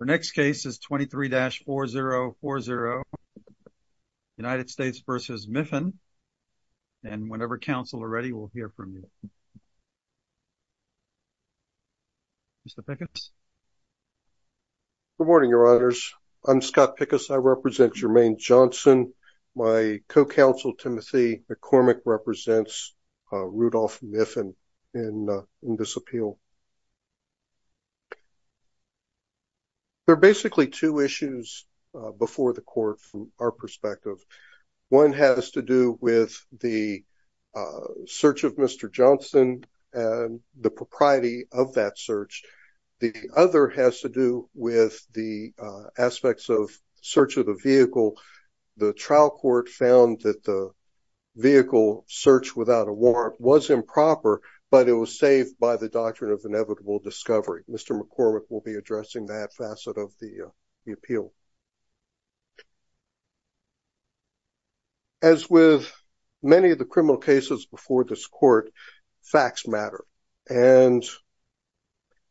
The next case is 23-4040, United States v. Miffin. And whenever counsel are ready, we'll hear from you. Mr. Pickens. Good morning, your honors. I'm Scott Pickens. I represent Germaine Johnson. My co-counsel, Timothy McCormick, represents Rudolph Miffin in this appeal. There are basically two issues before the court from our perspective. One has to do with the search of Mr. Johnson and the propriety of that search. The other has to do with the aspects of search of the vehicle. The trial court found that the vehicle search without a warrant was improper, but it was saved by the doctrine of inevitable discovery. Mr. McCormick will be addressing that facet of the appeal. As with many of the criminal cases before this court, facts matter. And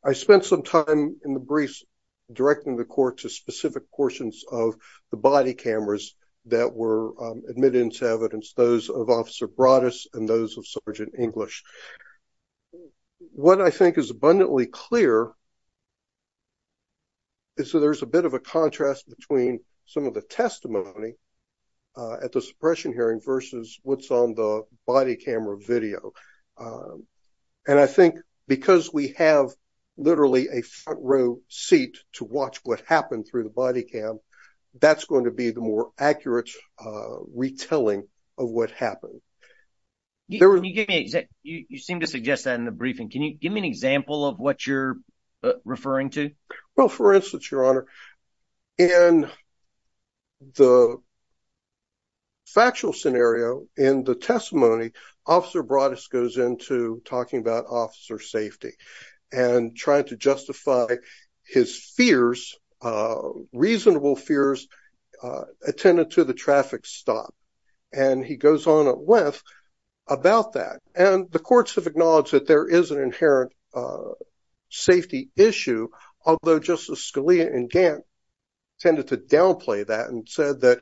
I spent some time in the briefs directing the court to specific portions of the body cameras that were admitted into evidence, those of Officer Broaddus and those of Sergeant English. What I think is abundantly clear is that there's a bit of a contrast between some of the testimony at the suppression hearing versus what's on the body camera video. And I think because we have literally a front row seat to watch what happened through the body cam, that's going to be the more accurate retelling of what happened. You seem to suggest that in the briefing. Can you give me an example of what you're referring to? Well, for instance, Your Honor, in the factual scenario in the testimony, Officer Broaddus goes into talking about officer safety and trying to justify his fears, reasonable fears, attended to the traffic stop. And he goes on at length about that. And the courts have acknowledged that there is an inherent safety issue, although Justice Scalia and Gantt tended to downplay that and said that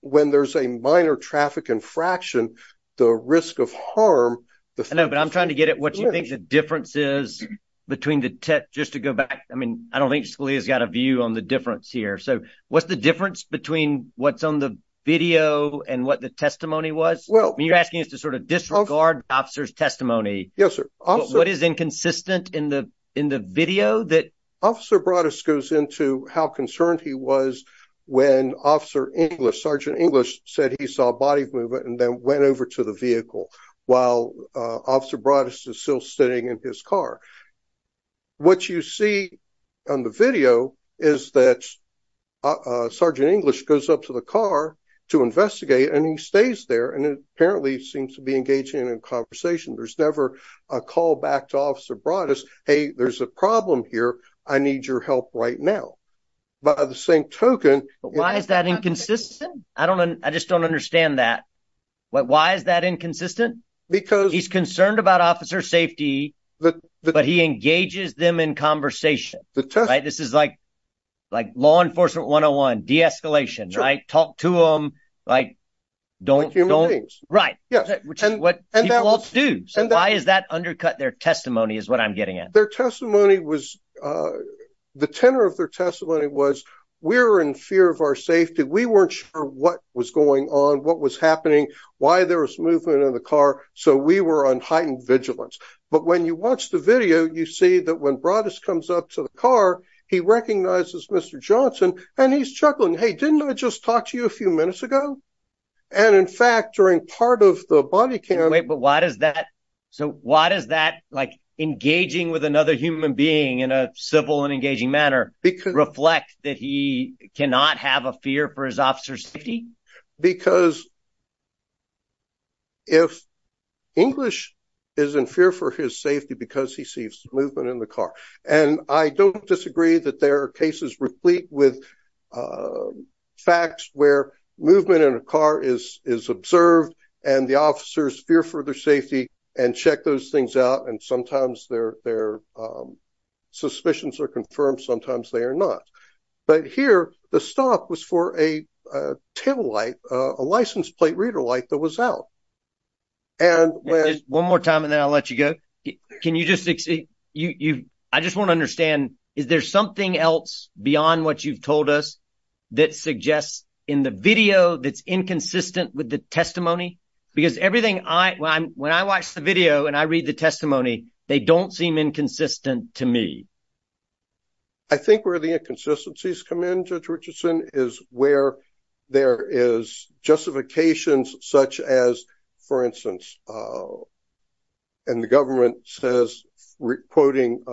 when there's a minor traffic infraction, the risk of harm. I know, but I'm trying to get at what you think the difference is between the two, just to go back. I mean, I don't think Scalia's got a view on the difference here. So what's the difference between what's on the video and what the testimony was? Well, I mean, you're asking us to sort of disregard officer's testimony. Yes, sir. What is inconsistent in the video that- Officer Broaddus goes into how concerned he was when Officer English, Sergeant English, said he saw body movement and then went over to the vehicle while Officer Broaddus is still sitting in his car. What you see on the video is that Sergeant English goes up to the car to investigate and he stays there. And it apparently seems to be engaging in a conversation. There's never a call back to Officer Broaddus. Hey, there's a problem here. I need your help right now. By the same token- But why is that inconsistent? I don't know. I just don't understand that. Why is that inconsistent? Because- He's concerned about officer's safety. But he engages them in conversation, right? This is like law enforcement 101, de-escalation, right? Talk to them, like don't- Like human beings. Right, which is what people do. So why is that undercut their testimony is what I'm getting at. Their testimony was, the tenor of their testimony was, we're in fear of our safety. We weren't sure what was going on, what was happening, why there was movement in the car. So we were on heightened vigilance. But when you watch the video, you see that when Broaddus comes up to the car, he recognizes Mr. Johnson and he's chuckling. Hey, didn't I just talk to you a few minutes ago? And in fact, during part of the body cam- Wait, but why does that, so why does that, like engaging with another human being in a civil and engaging manner reflect that he cannot have a fear for his officer's safety? Because if English is in fear for his safety, because he sees movement in the car. And I don't disagree that there are cases replete with facts where movement in a car is observed and the officers fear for their safety and check those things out. And sometimes their suspicions are confirmed, sometimes they are not. But here, the stop was for a table light, a license plate reader light that was out. And when- Can you just, I just want to understand, is there something else beyond what you've told us that suggests in the video that's inconsistent with the testimony? Because everything, when I watch the video and I read the testimony, they don't seem inconsistent to me. I think where the inconsistencies come in, Judge Richardson, is where there is justifications such as, for instance, and the government says, re-quoting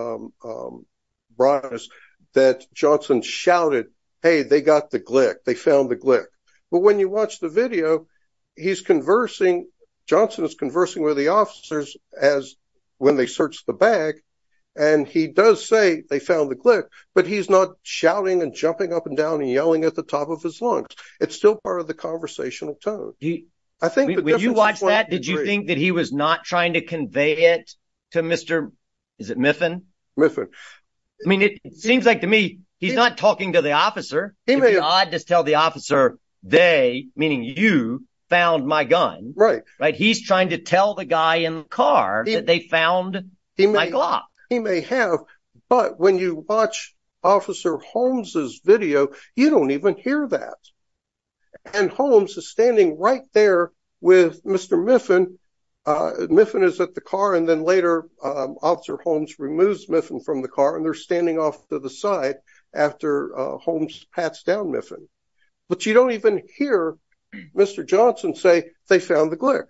Broadus, that Johnson shouted, hey, they got the Glick, they found the Glick. But when you watch the video, he's conversing, Johnson is conversing with the officers as when they searched the bag. And he does say they found the Glick, but he's not shouting and jumping up and down and yelling at the top of his lungs. It's still part of the conversational tone. I think the difference is point three. When you watched that, did you think that he was not trying to convey it to Mr., is it Miffin? Miffin. I mean, it seems like to me, he's not talking to the officer. He may have. If God just tell the officer, they, meaning you, found my gun. Right. Right, he's trying to tell the guy in the car that they found my Glock. He may have, but when you watch Officer Holmes' video, you don't even hear that. And Holmes is standing right there with Mr. Miffin. Miffin is at the car, and then later Officer Holmes removes Miffin from the car, and they're standing off to the side after Holmes pats down Miffin. But you don't even hear Mr. Johnson say, they found the Glick.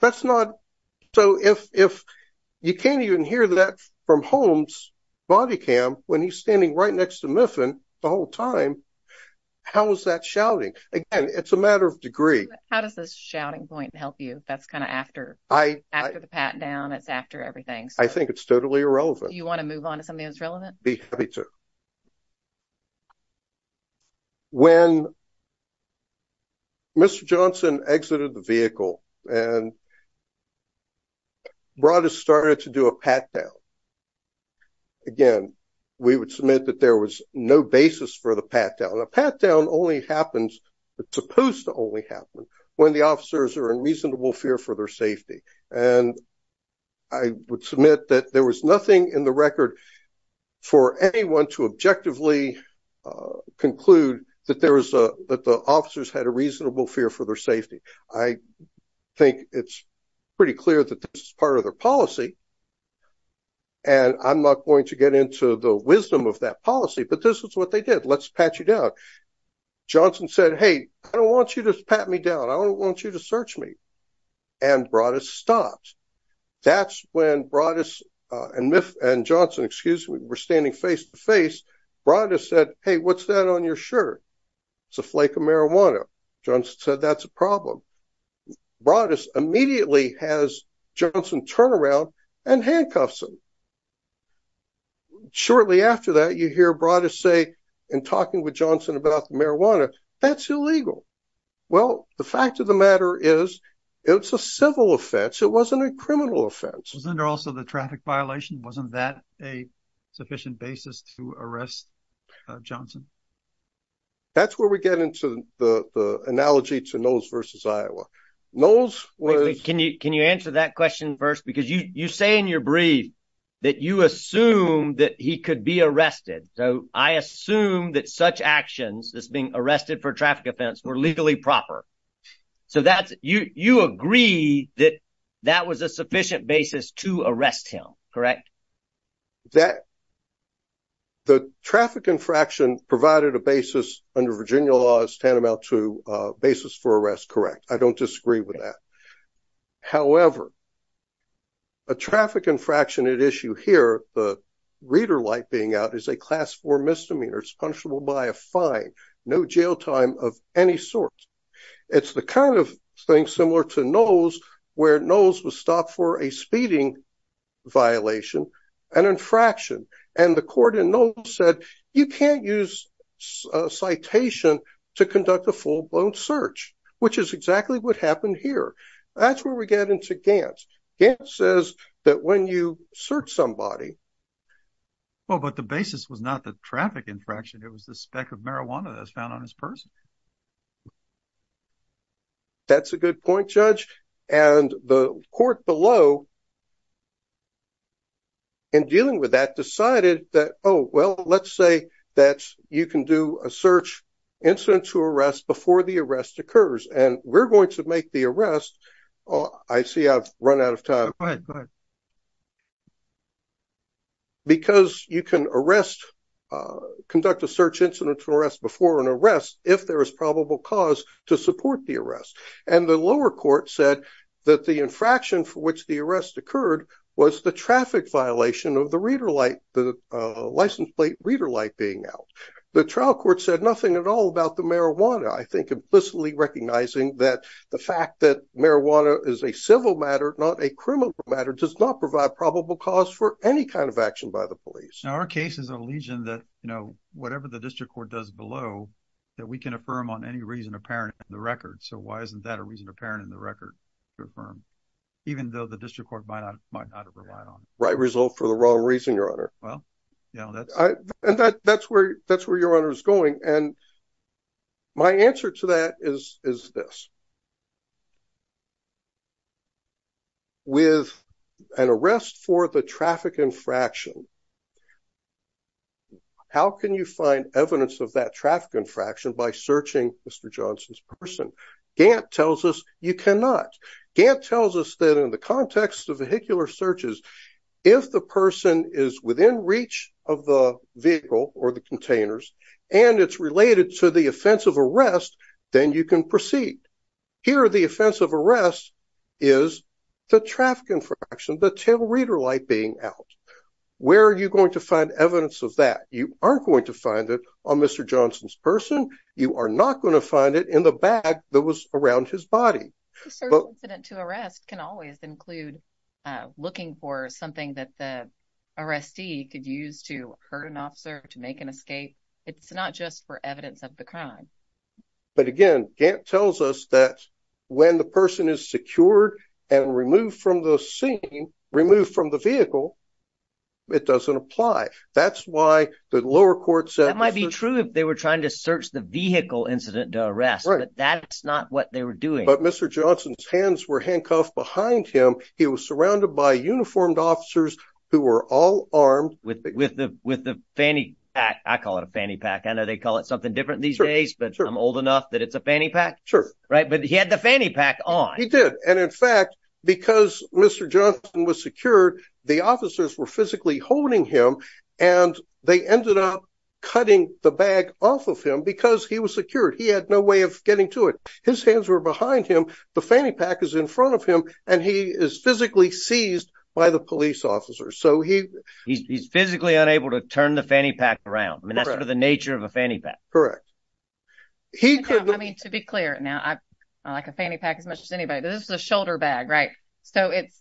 That's not, so if you can't even hear that from Holmes' body cam when he's standing right next to Miffin the whole time, how is that shouting? Again, it's a matter of degree. How does this shouting point help you? That's kind of after the pat down, it's after everything. I think it's totally irrelevant. You want to move on to something that's relevant? Be happy to. When Mr. Johnson exited the vehicle and brought us started to do a pat down, again, we would submit that there was no basis for the pat down. A pat down only happens, it's supposed to only happen when the officers are in reasonable fear for their safety. And I would submit that there was nothing in the record for anyone to objectively conclude that the officers had a reasonable fear for their safety. I think it's pretty clear that this is part of their policy. And I'm not going to get into the wisdom of that policy, but this is what they did. Let's pat you down. Johnson said, hey, I don't want you to pat me down. I don't want you to search me. And Broaddus stopped. That's when Broaddus and Johnson, excuse me, were standing face to face. Broaddus said, hey, what's that on your shirt? It's a flake of marijuana. Johnson said, that's a problem. Broaddus immediately has Johnson turn around and handcuffs him. Shortly after that, you hear Broaddus say, in talking with Johnson about the marijuana, that's illegal. Well, the fact of the matter is it's a civil offense. It wasn't a criminal offense. Wasn't also the traffic violation. Wasn't that a sufficient basis to arrest Johnson? That's where we get into the analogy to Knowles versus Iowa. Knowles was- Can you answer that question first? Because you say in your brief that you assume that he could be arrested. So I assume that such actions, this being arrested for traffic offense, were legally proper. So you agree that that was a sufficient basis to arrest him, correct? The traffic infraction provided a basis under Virginia law as tantamount to a basis for arrest, correct. I don't disagree with that. However, a traffic infraction at issue here, the reader light being out, is a class four misdemeanor. It's punishable by a fine. No jail time of any sort. It's the kind of thing similar to Knowles, where Knowles was stopped for a speeding violation, an infraction, and the court in Knowles said, you can't use citation to conduct a full-blown search, which is exactly what happened here. That's where we get into Gantz. Gantz says that when you search somebody- Well, but the basis was not the traffic infraction. It was the speck of marijuana that was found on his purse. That's a good point, Judge. And the court below, in dealing with that, decided that, oh, well, let's say that you can do a search incident to arrest before the arrest occurs, and we're going to make the arrest. I see I've run out of time. Go ahead, go ahead. Because you can arrest, conduct a search incident to arrest before an arrest if there is probable cause to support the arrest. And the lower court said that the infraction for which the arrest occurred was the traffic violation of the license plate reader light being out. The trial court said nothing at all about the marijuana, I think, implicitly recognizing that the fact that marijuana is a civil matter, not a criminal matter, does not provide probable cause for any kind of action by the police. Now, our case is a legion that, you know, whatever the district court does below, that we can affirm on any reason apparent in the record. So why isn't that a reason apparent in the record to affirm, even though the district court might not have relied on it? Right result for the wrong reason, Your Honor. Well, you know, that's- And that's where Your Honor is going. And my answer to that is this. With an arrest for the traffic infraction, how can you find evidence of that traffic infraction by searching Mr. Johnson's person? Gantt tells us you cannot. Gantt tells us that in the context of vehicular searches, if the person is within reach of the vehicle or the containers, and it's related to the offense of arrest, then you can proceed. Here, the offense of arrest is the traffic infraction, the tail reader light being out. Where are you going to find evidence of that? You aren't going to find it on Mr. Johnson's person. You are not going to find it in the bag that was around his body. A certain incident to arrest can always include looking for something that the arrestee could use to hurt an officer, to make an escape. It's not just for evidence of the crime. But again, Gantt tells us that when the person is secured and removed from the scene, removed from the vehicle, it doesn't apply. That's why the lower court said- That might be true if they were trying to search the vehicle incident to arrest, but that's not what they were doing. But Mr. Johnson's hands were handcuffed behind him. He was surrounded by uniformed officers who were all armed. With the fanny pack. I call it a fanny pack. I know they call it something different these days, but I'm old enough that it's a fanny pack. Sure. Right, but he had the fanny pack on. He did. And in fact, because Mr. Johnson was secured, the officers were physically holding him and they ended up cutting the bag off of him because he was secured. He had no way of getting to it. His hands were behind him. The fanny pack is in front of him and he is physically seized by the police officers. So he- He's physically unable to turn the fanny pack around. I mean, that's sort of the nature of a fanny pack. Correct. He could- I mean, to be clear now, I like a fanny pack as much as anybody, but this is a shoulder bag, right? So it's,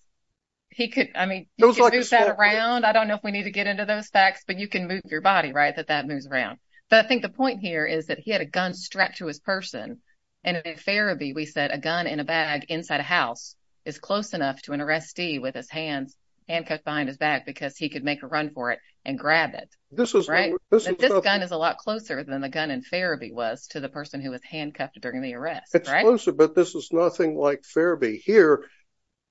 he could, I mean, he could move that around. I don't know if we need to get into those facts, but you can move your body, right? That that moves around. But I think the point here is that he had a gun strapped to his person. And in Farrabee, we said a gun in a bag inside a house is close enough to an arrestee with his hands handcuffed behind his back because he could make a run for it and grab it. This is- Right? This gun is a lot closer than the gun in Farrabee was to the person who was handcuffed during the arrest. It's closer, but this is nothing like Farrabee. Here,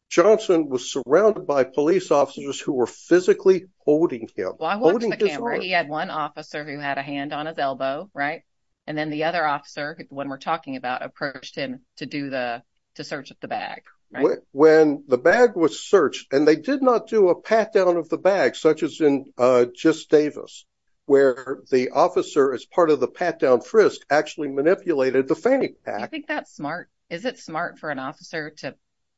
Johnson was surrounded by police officers who were physically holding him. Well, I watched the camera. He had one officer who had a hand on his elbow, right? And then the other officer, when we're talking about approached him to do the, to search the bag, right? When the bag was searched and they did not do a pat down of the bag, such as in just Davis, where the officer is part of the pat down frisk actually manipulated the fanny pack. You think that's smart? Is it smart for an officer to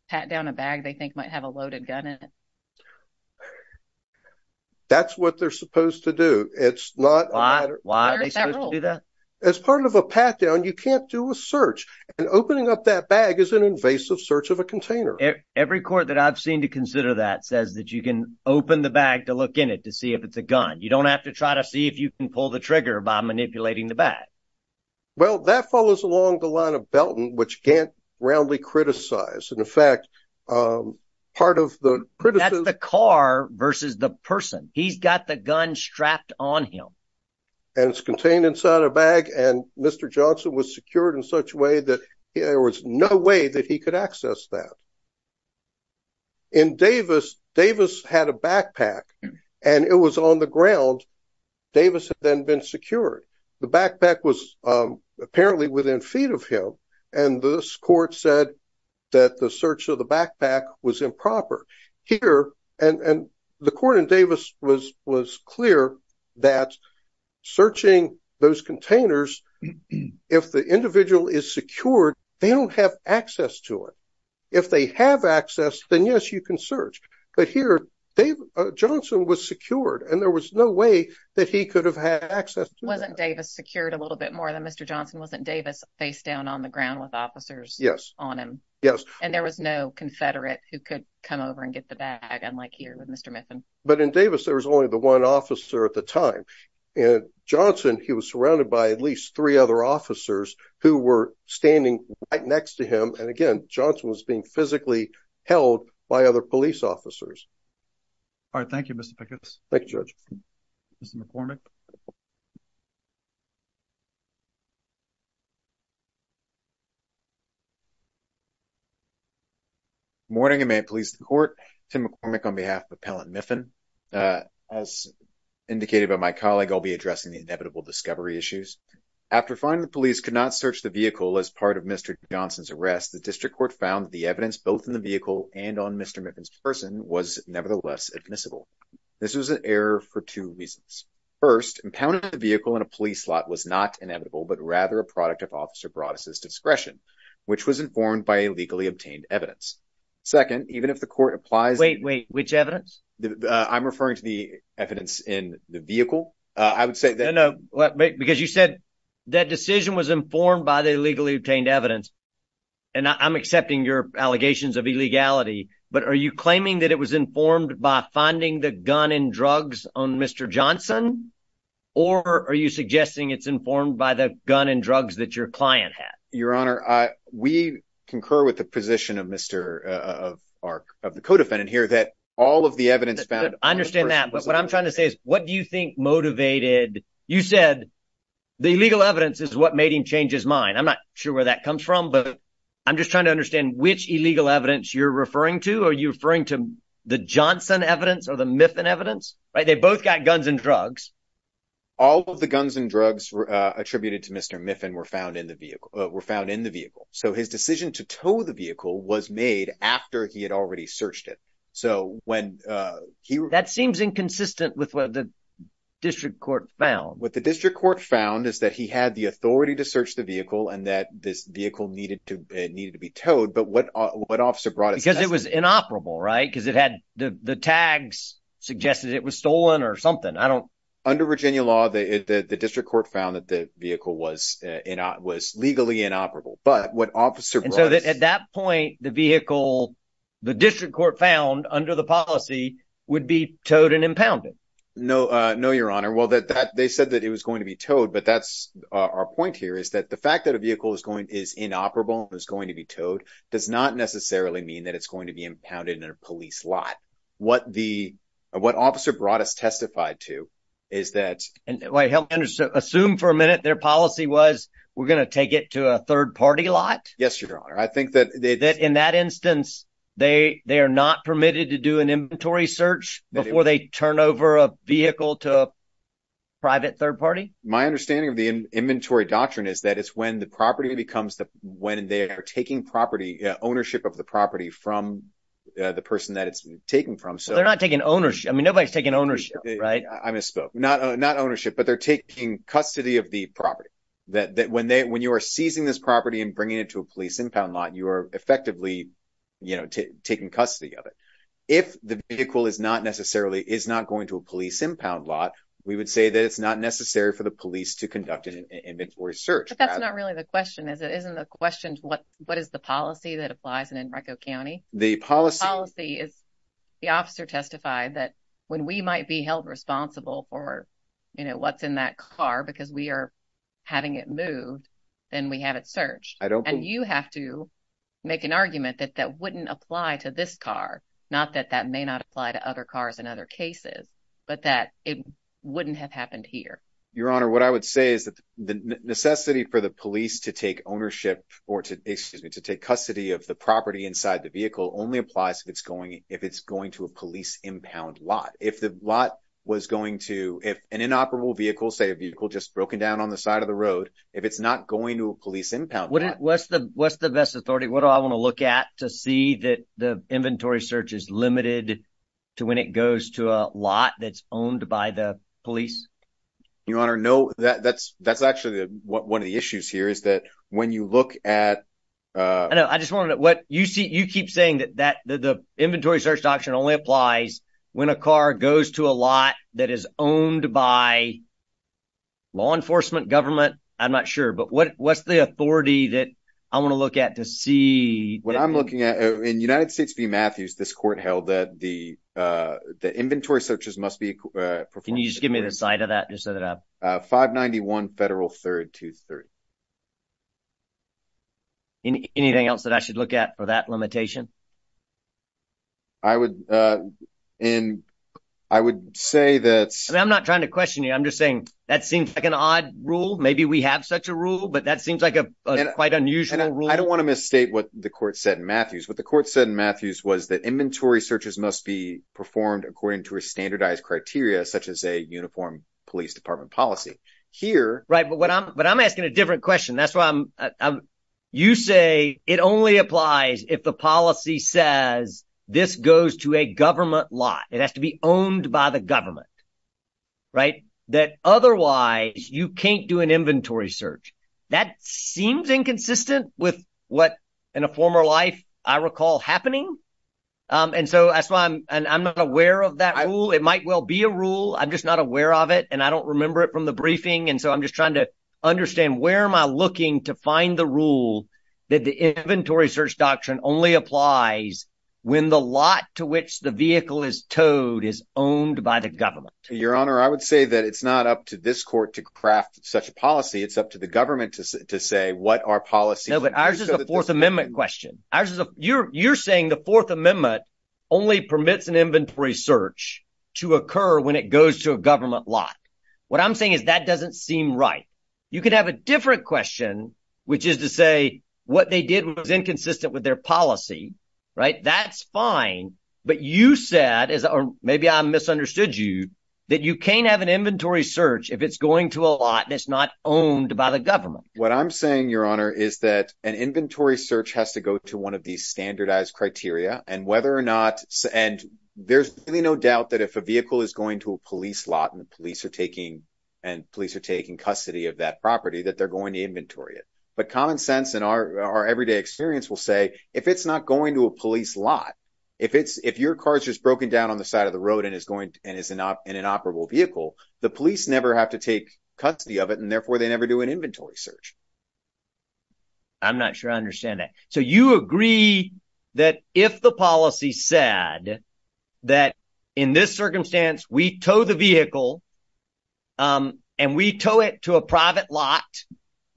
pat down a bag they think might have a loaded gun in it? That's what they're supposed to do. It's not- Why? Why are they supposed to do that? As part of a pat down, you can't do a search. And opening up that bag is an invasive search of a container. Every court that I've seen to consider that says that you can open the bag to look in it to see if it's a gun. You don't have to try to see if you can pull the trigger by manipulating the bag. Well, that follows along the line of Belton, which can't roundly criticize. And in fact, part of the criticism- That's the car versus the person. He's got the gun strapped on him. And it's contained inside a bag. And Mr. Johnson was secured in such a way that there was no way that he could access that. In Davis, Davis had a backpack and it was on the ground. Davis had then been secured. The backpack was apparently within feet of him. And this court said that the search of the backpack was improper. Here, and the court in Davis was clear that searching those containers, if the individual is secured, they don't have access to it. If they have access, then yes, you can search. But here, Johnson was secured and there was no way that he could have had access to it. Wasn't Davis secured a little bit more than Mr. Johnson? Wasn't Davis face down on the ground with officers on him? Yes. And there was no Confederate who could come over and get the bag, unlike here with Mr. Miffin? But in Davis, there was only the one officer at the time. And Johnson, he was surrounded by at least three other officers who were standing right next to him. And again, Johnson was being physically held by other police officers. All right, thank you, Mr. Pickens. Thank you, Judge. Mr. McCormick. Morning, and may it please the court. Tim McCormick on behalf of Appellant Miffin. As indicated by my colleague, I'll be addressing the inevitable discovery issues. After finding the police could not search the vehicle as part of Mr. Johnson's arrest, the district court found the evidence both in the vehicle and on Mr. Miffin's person was nevertheless admissible. This was an error for two reasons. First, impounding the vehicle in a police lot was not inevitable, but rather a product of Officer Broaddus' discretion, which was informed by a legally obtained evidence. Second, even if the court applies- Wait, wait, which evidence? I'm referring to the evidence in the vehicle. I would say that- No, no, because you said that decision was informed by the legally obtained evidence, and I'm accepting your allegations of illegality, but are you claiming that it was informed by finding the gun and drugs on Mr. Johnson, or are you suggesting it's informed by the gun and drugs that your client had? Your Honor, we concur with the position of the co-defendant here that all of the evidence found- I understand that, but what I'm trying to say is, what do you think motivated... You said the illegal evidence is what made him change his mind. I'm not sure where that comes from, but I'm just trying to understand which illegal evidence you're referring to. Are you referring to the Johnson evidence or the Miffin evidence? They both got guns and drugs. All of the guns and drugs attributed to Mr. Miffin were found in the vehicle. So his decision to tow the vehicle was made after he had already searched it. That seems inconsistent with what the district court found. What the district court found is that he had the authority to search the vehicle and that this vehicle needed to be towed, but what officer brought it- Because it was inoperable, right? Because the tags suggested it was stolen or something. Under Virginia law, the district court found that the vehicle was legally inoperable, but what officer brought- And so at that point, the vehicle, the district court found under the policy would be towed and impounded. No, your honor. Well, they said that it was going to be towed, but that's our point here is that the fact that a vehicle is inoperable and is going to be towed does not necessarily mean that it's going to be impounded in a police lot. What officer brought us testified to is that- And wait, help me understand. Assume for a minute their policy was, we're going to take it to a third party lot? Yes, your honor. I think that- That in that instance, they are not permitted to do an inventory search before they turn over a vehicle to a private third party? My understanding of the inventory doctrine is that it's when the property becomes the, when they are taking ownership of the property from the person that it's taken from. So they're not taking ownership. I mean, nobody's taking ownership, right? I misspoke. Not ownership, but they're taking custody of the property that when you are seizing this property and bringing it to a police impound lot, you are effectively, you know, taking custody of it. If the vehicle is not necessarily, is not going to a police impound lot, we would say that it's not necessary for the police to conduct an inventory search. But that's not really the question, is it? Isn't the question what is the policy that applies in Enrico County? The policy- The policy is the officer testified that when we might be held responsible for, you know, what's in that car, because we are having it moved, then we have it searched. I don't- And you have to make an argument that that wouldn't apply to this car. Not that that may not apply to other cars in other cases, but that it wouldn't have happened here. Your Honor, what I would say is that the necessity for the police to take ownership or to, excuse me, to take custody of the property inside the vehicle only applies if it's going to a police impound lot. If the lot was going to, if an inoperable vehicle, say a vehicle just broken down on the side of the road, if it's not going to a police impound lot- What's the best authority? What do I want to look at to see that the inventory search is limited to when it goes to a lot that's owned by the police? Your Honor, no, that's actually one of the issues here is that when you look at- I know, I just wanted to- What you keep saying that the inventory search doctrine only applies when a car goes to a lot that is owned by law enforcement, government. I'm not sure, but what's the authority that I want to look at to see- What I'm looking at, in United States v. Matthews, this court held that the inventory searches must be performed- Can you just give me the site of that just so that I- 591 Federal 3rd 230. Anything else that I should look at for that limitation? I would say that- I'm not trying to question you. I'm just saying that seems like an odd rule. Maybe we have such a rule, but that seems like a quite unusual rule. I don't want to misstate what the court said in Matthews. What the court said in Matthews was that inventory searches must be performed according to a standardized criteria such as a uniform police department policy. Here- Right, but I'm asking a different question. That's why I'm- You say it only applies if the policy says this goes to a government lot. It has to be owned by the government, right? That otherwise, you can't do an inventory search. That seems inconsistent with what, in a former life, I recall happening. And so that's why I'm not aware of that rule. It might well be a rule. I'm just not aware of it, and I don't remember it from the briefing. And so I'm just trying to understand where am I looking to find the rule that the inventory search doctrine only applies when the lot to which the vehicle is towed is owned by the government? Your Honor, I would say that it's not up to this court to craft such a policy. It's up to the government to say what our policy- No, but ours is a Fourth Amendment question. You're saying the Fourth Amendment only permits an inventory search to occur when it goes to a government lot. What I'm saying is that doesn't seem right. You could have a different question, which is to say what they did was inconsistent with their policy, right? That's fine. But you said, or maybe I misunderstood you, that you can't have an inventory search if it's going to a lot and it's not owned by the government. What I'm saying, Your Honor, is that an inventory search has to go to one of these standardized criteria, and whether or not- And there's really no doubt that if a vehicle is going to a police lot and police are taking custody of that property, that they're going to inventory it. But common sense in our everyday experience will say, if it's not going to a police lot, if your car's just broken down on the side of the road and is in an operable vehicle, the police never have to take custody of it, and therefore they never do an inventory search. I'm not sure I understand that. So you agree that if the policy said that in this circumstance, we tow the vehicle and we tow it to a private lot,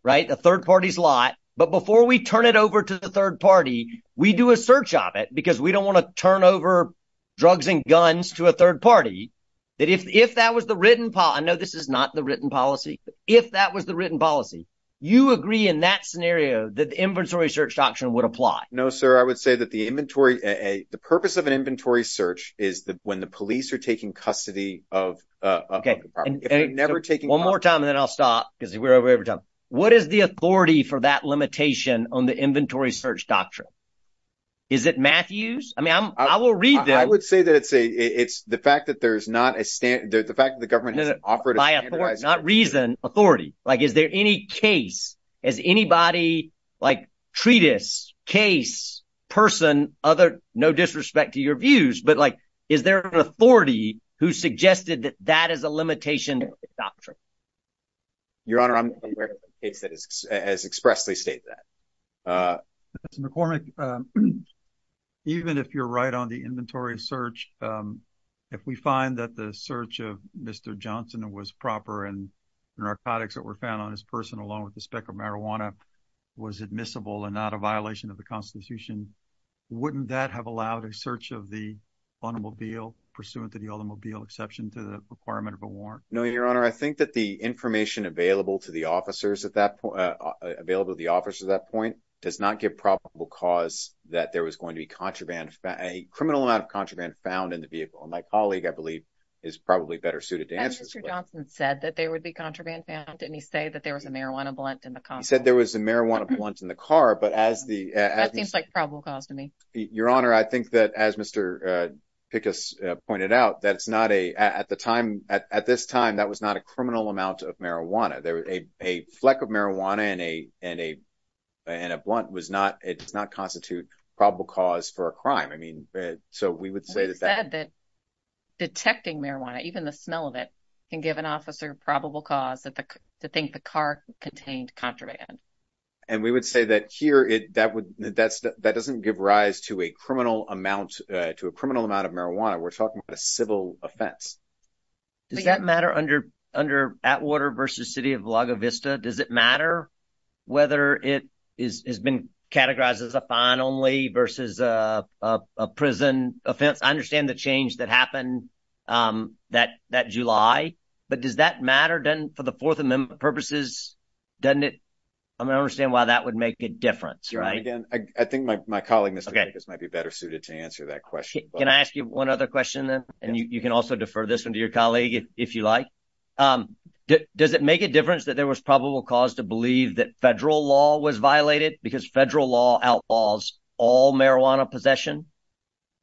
right? A third party's lot. But before we turn it over to the third party, we do a search of it because we don't want to turn over drugs and guns to a third party. That if that was the written po- I know this is not the written policy. If that was the written policy, you agree in that scenario that the inventory search doctrine would apply? No, sir. I would say that the purpose of an inventory search is that when the police are taking custody of a property, if they're never taking- One more time, and then I'll stop because we're over every time. What is the authority for that limitation on the inventory search doctrine? Is it Matthews? I mean, I will read them. I would say that it's the fact that there's not a stan- the fact that the government has offered a standardized- Not reason, authority. Like, is there any case? Is anybody, like, treatise, case, person, other, no disrespect to your views, but, like, is there an authority who suggested that that is a limitation of the doctrine? Your Honor, I'm not aware of a case that has expressly stated that. Mr. McCormick, even if you're right on the inventory search, if we find that the search of Mr. Johnson was proper and the narcotics that were found on his person along with the speck of marijuana was admissible and not a violation of the Constitution, wouldn't that have allowed a search of the automobile pursuant to the automobile exception to the requirement of a warrant? No, Your Honor. I think that the information available to the officers at that point, available to the officers at that point, does not give probable cause that there was going to be contraband, a criminal amount of contraband found in the vehicle. My colleague, I believe, is probably better suited to answer this. Had Mr. Johnson said that there would be contraband found, didn't he say that there was a marijuana blunt in the car? He said there was a marijuana blunt in the car, but as the- That seems like probable cause to me. Your Honor, I think that as Mr. Pickus pointed out, that it's not a, at the time, at this time, that was not a criminal amount of marijuana. There was a fleck of marijuana and a blunt was not, it does not constitute probable cause for a crime. I mean, so we would say that- He said that detecting marijuana, even the smell of it, can give an officer probable cause to think the car contained contraband. And we would say that here, that doesn't give rise to a criminal amount, to a criminal amount of marijuana. We're talking about a civil offense. Does that matter under Atwater versus City of La Vista? Does it matter whether it has been categorized as a fine only versus a prison offense? I understand the change that happened that July, but does that matter? Doesn't, for the Fourth Amendment purposes, doesn't it, I mean, I understand why that would make a difference. Right? Again, I think my colleague, Mr. Pickus, might be better suited to answer that question. Can I ask you one other question then? And you can also defer this one to your colleague if you like. Does it make a difference that there was probable cause to believe that federal law was violated because federal law outlaws all marijuana possession?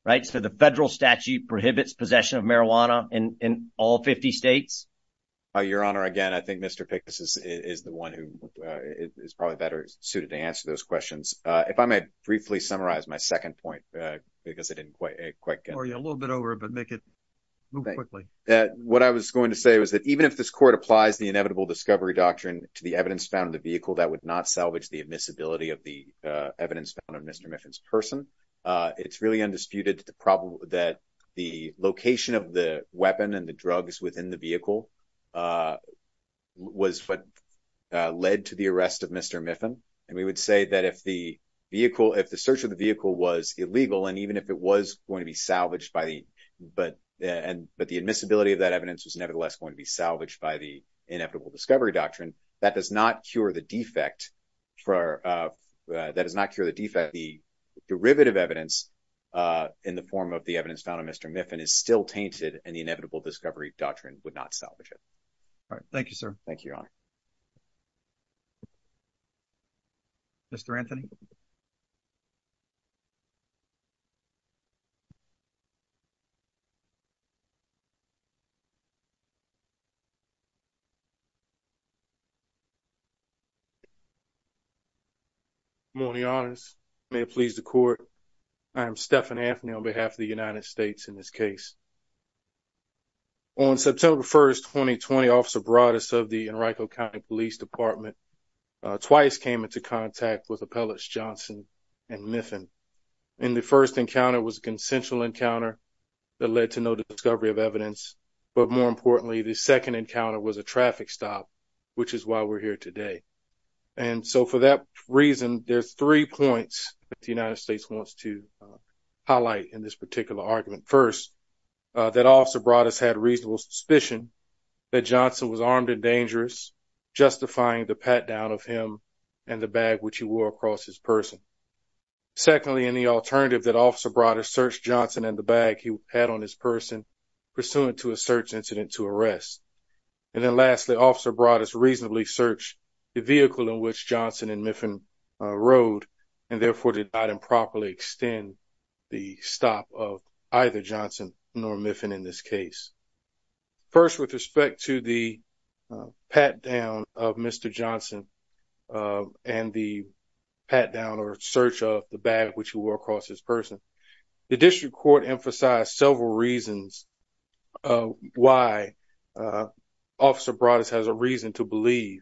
Right, so the federal statute prohibits possession of marijuana in all 50 states? Your Honor, again, I think Mr. Pickus is the one who is probably better suited to answer those questions. If I may briefly summarize my second point, because it didn't quite get- Sorry, a little bit over, but make it move quickly. What I was going to say was that even if this court applies the inevitable discovery doctrine to the evidence found in the vehicle, that would not salvage the admissibility of the evidence found in Mr. Miffin's person. It's really undisputed that the location of the weapon and the drugs within the vehicle was what led to the arrest of Mr. Miffin. And we would say that if the vehicle, if the search of the vehicle was illegal, and even if it was going to be salvaged by the, but the admissibility of that evidence was nevertheless going to be salvaged by the inevitable discovery doctrine, that does not cure the defect for, that does not cure the defect. The derivative evidence in the form of the evidence found in Mr. Miffin is still tainted, and the inevitable discovery doctrine would not salvage it. All right, thank you, sir. Thank you, Your Honor. Mr. Anthony. Good morning, Your Honors. May it please the court. I am Stephan Anthony on behalf of the United States in this case. On September 1st, 2020, Officer Broadus of the Henrico County Police Department twice came into contact with Appellants Johnson and Miffin. And the first encounter was a consensual encounter that led to no discovery of evidence. But more importantly, the second encounter was a traffic stop, which is why we're here today. And so for that reason, there's three points that the United States wants to highlight in this particular argument. First, that Officer Broadus had reasonable suspicion that Johnson was armed and dangerous, justifying the pat-down of him and the bag which he wore across his person. Secondly, in the alternative that Officer Broadus searched Johnson and the bag he had on his person pursuant to a search incident to arrest. And then lastly, Officer Broadus reasonably searched the vehicle in which Johnson and Miffin rode, and therefore did not improperly extend the stop of either Johnson nor Miffin in this case. First, with respect to the pat-down of Mr. Johnson and the pat-down or search of the bag which he wore across his person, the District Court emphasized several reasons why Officer Broadus has a reason to believe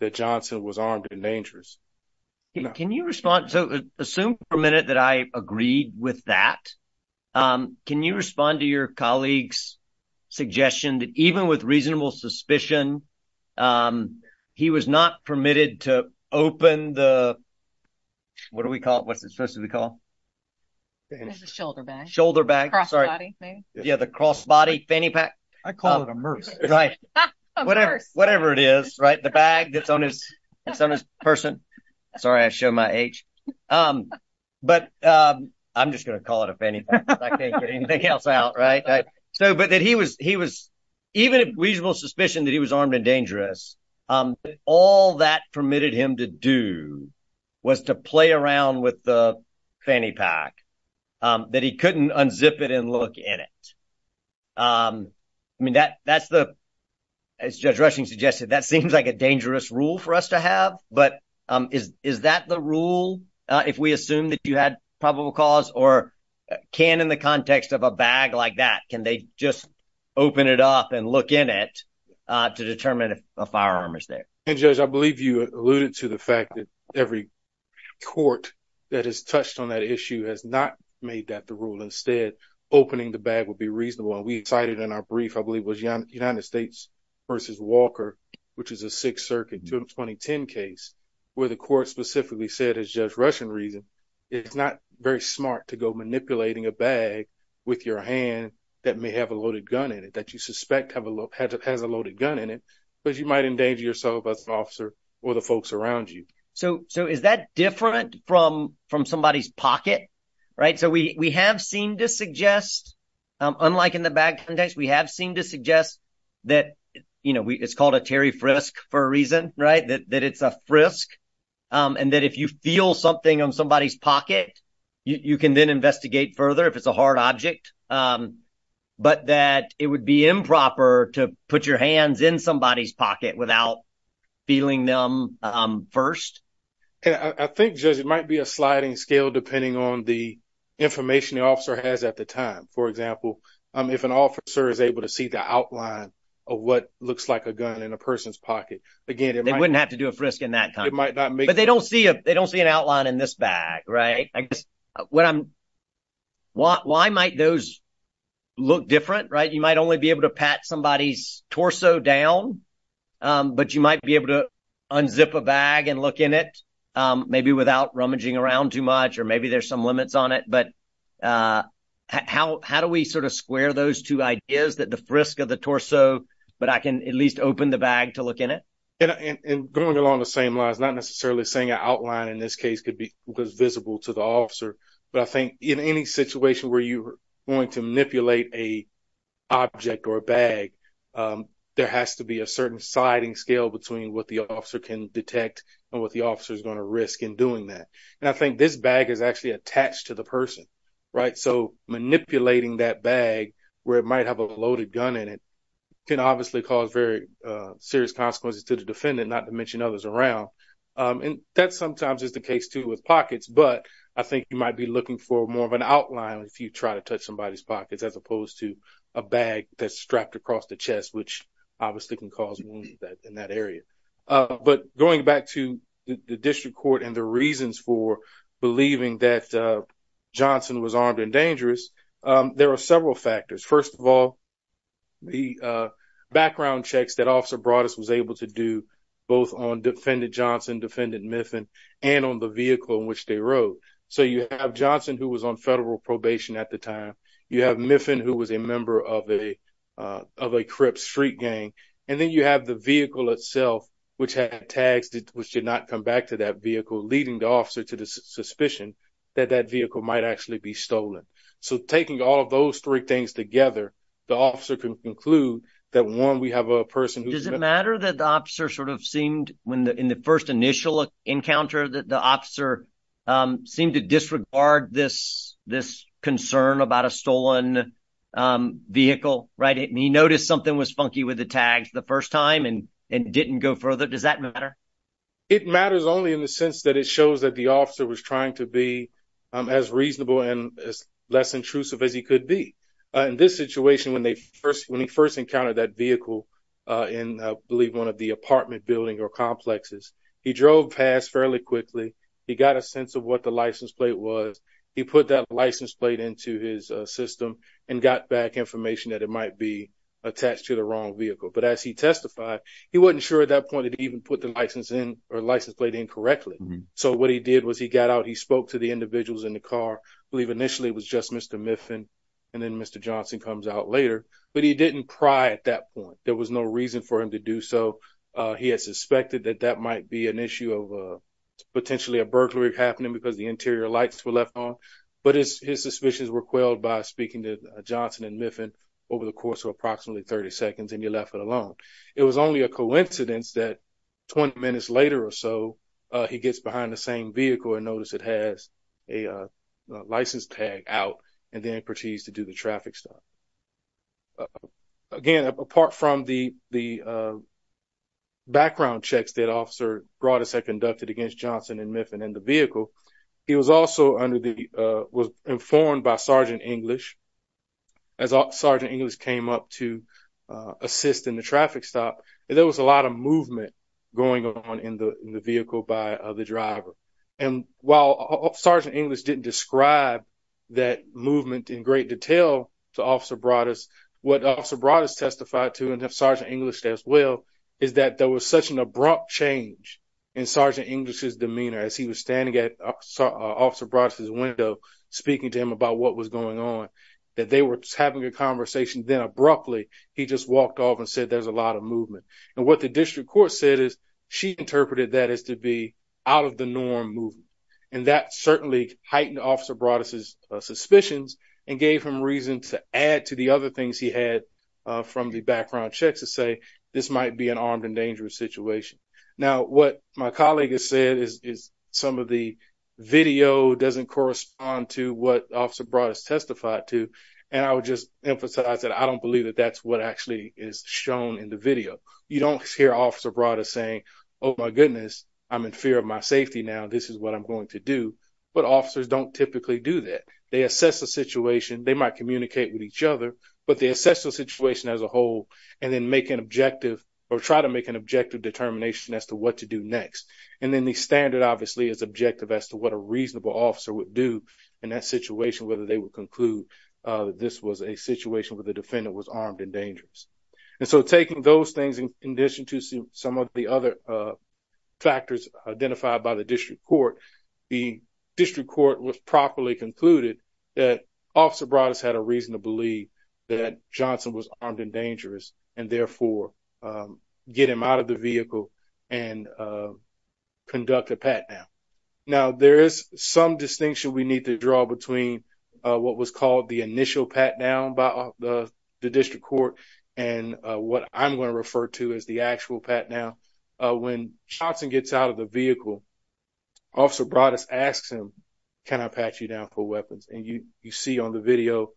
that Johnson was armed and dangerous. Can you respond? So assume for a minute that I agreed with that. Can you respond to your colleague's suggestion that even with reasonable suspicion, he was not permitted to open the, what do we call it? What's it supposed to be called? It's a shoulder bag. Shoulder bag, sorry. Cross body, maybe. Yeah, the cross body fanny pack. I call it a murse. Right. A murse. Whatever it is, right? The bag that's on his person. Sorry, I showed my age. But I'm just gonna call it a fanny pack if I can't get anything else out, right? So, but that he was, even with reasonable suspicion that he was armed and dangerous, all that permitted him to do was to play around with the fanny pack that he couldn't unzip it and look in it. I mean, that's the, as Judge Rushing suggested, that seems like a dangerous rule for us to have, but is that the rule? If we assume that you had probable cause or can in the context of a bag like that, can they just open it up and look in it to determine if a firearm is there? And Judge, I believe you alluded to the fact that every court that has touched on that issue has not made that the rule. Instead, opening the bag would be reasonable. And we cited in our brief, I believe it was United States versus Walker, which is a Sixth Circuit, 2010 case, where the court specifically said, as Judge Rushing reason, it's not very smart to go manipulating a bag with your hand that may have a loaded gun in it, that you suspect has a loaded gun in it, because you might endanger yourself as an officer or the folks around you. So is that different from somebody's pocket, right? So we have seen to suggest, unlike in the bag context, we have seen to suggest that, it's called a Terry Frisk for a reason, right? That it's a frisk. And that if you feel something on somebody's pocket, you can then investigate further if it's a hard object, but that it would be improper to put your hands in somebody's pocket without feeling them first. And I think, Judge, it might be a sliding scale depending on the information the officer has at the time. For example, if an officer is able to see the outline of what looks like a gun in a person's pocket, again, it might- They wouldn't have to do a frisk in that time. It might not make- But they don't see an outline in this bag, right? Why might those look different, right? You might only be able to pat somebody's torso down, but you might be able to unzip a bag and look in it, maybe without rummaging around too much, or maybe there's some limits on it, but how do we sort of square those two ideas, that the frisk of the torso, but I can at least open the bag to look in it? And going along the same lines, not necessarily saying an outline in this case could be visible to the officer, but I think in any situation where you're going to manipulate a object or a bag, there has to be a certain sliding scale between what the officer can detect and what the officer's gonna risk in doing that. And I think this bag is actually attached to the person, right, so manipulating that bag where it might have a loaded gun in it can obviously cause very serious consequences to the defendant, not to mention others around. And that sometimes is the case too with pockets, but I think you might be looking for more of an outline if you try to touch somebody's pockets, as opposed to a bag that's strapped across the chest, which obviously can cause wounds in that area. But going back to the district court and the reasons for believing that Johnson was armed and dangerous, there are several factors. First of all, the background checks that Officer Broaddus was able to do both on defendant Johnson, defendant Miffin, and on the vehicle in which they rode. So you have Johnson, who was on federal probation at the time, you have Miffin, who was a member of a Crips street gang, and then you have the vehicle itself, which had tags which did not come back to that vehicle, leading the officer to the suspicion that that vehicle might actually be stolen. So taking all of those three things together, the officer can conclude that one, we have a person who's- Does it matter that the officer sort of seemed, in the first initial encounter, that the officer seemed to disregard this concern about a stolen vehicle, right? And he noticed something was funky with the tags the first time and didn't go further, does that matter? It matters only in the sense that it shows that the officer was trying to be as reasonable and as less intrusive as he could be. In this situation, when he first encountered that vehicle in, I believe, one of the apartment building or complexes, he drove past fairly quickly, he got a sense of what the license plate was, he put that license plate into his system and got back information that it might be attached to the wrong vehicle. But as he testified, he wasn't sure at that point that he even put the license plate in correctly. So what he did was he got out, he spoke to the individuals in the car, I believe initially it was just Mr. Miffin and then Mr. Johnson comes out later, but he didn't pry at that point. There was no reason for him to do so. He had suspected that that might be an issue of potentially a burglary happening because the interior lights were left on, but his suspicions were quelled by speaking to Johnson and Miffin over the course of approximately 30 seconds and he left it alone. It was only a coincidence that 20 minutes later or so, he gets behind the same vehicle and notice it has a license tag out and then proceeds to do the traffic stop. Again, apart from the background checks that Officer Broadus had conducted against Johnson and Miffin in the vehicle, he was also under the, was informed by Sergeant English. As Sergeant English came up to assist in the traffic stop, there was a lot of movement going on in the vehicle by the driver. And while Sergeant English didn't describe that movement in great detail to Officer Broadus, what Officer Broadus testified to and if Sergeant English as well, is that there was such an abrupt change in Sergeant English's demeanor as he was standing at Officer Broadus's window speaking to him about what was going on. That they were having a conversation then abruptly, he just walked off and said, there's a lot of movement. And what the district court said is, she interpreted that as to be out of the norm movement. And that certainly heightened Officer Broadus's suspicions and gave him reason to add to the other things he had from the background checks to say, this might be an armed and dangerous situation. Now, what my colleague has said is, some of the video doesn't correspond onto what Officer Broadus testified to. And I would just emphasize that I don't believe that that's what actually is shown in the video. You don't hear Officer Broadus saying, oh my goodness, I'm in fear of my safety now, this is what I'm going to do. But officers don't typically do that. They assess the situation, they might communicate with each other, but they assess the situation as a whole and then make an objective or try to make an objective determination as to what to do next. And then the standard obviously is objective as to what a reasonable officer would do in that situation, whether they would conclude this was a situation where the defendant was armed and dangerous. And so taking those things in addition to some of the other factors identified by the district court, the district court was properly concluded that Officer Broadus had a reason to believe that Johnson was armed and dangerous and therefore get him out of the vehicle and conduct a pat down. Now there is some distinction we need to draw between what was called the initial pat down by the district court and what I'm going to refer to as the actual pat down. When Johnson gets out of the vehicle, Officer Broadus asks him, can I pat you down for weapons? And you see on the video,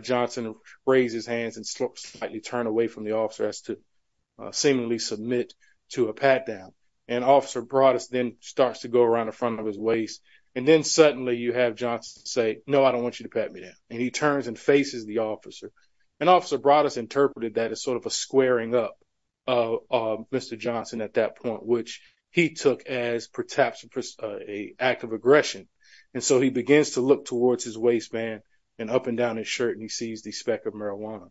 Johnson raised his hands and slightly turned away from the officer as to seemingly submit to a pat down. And Officer Broadus then starts to go around the front of his waist. And then suddenly you have Johnson say, no, I don't want you to pat me down. And he turns and faces the officer. And Officer Broadus interpreted that as sort of a squaring up of Mr. Johnson at that point, which he took as perhaps a act of aggression. And so he begins to look towards his waistband and up and down his shirt and he sees the speck of marijuana.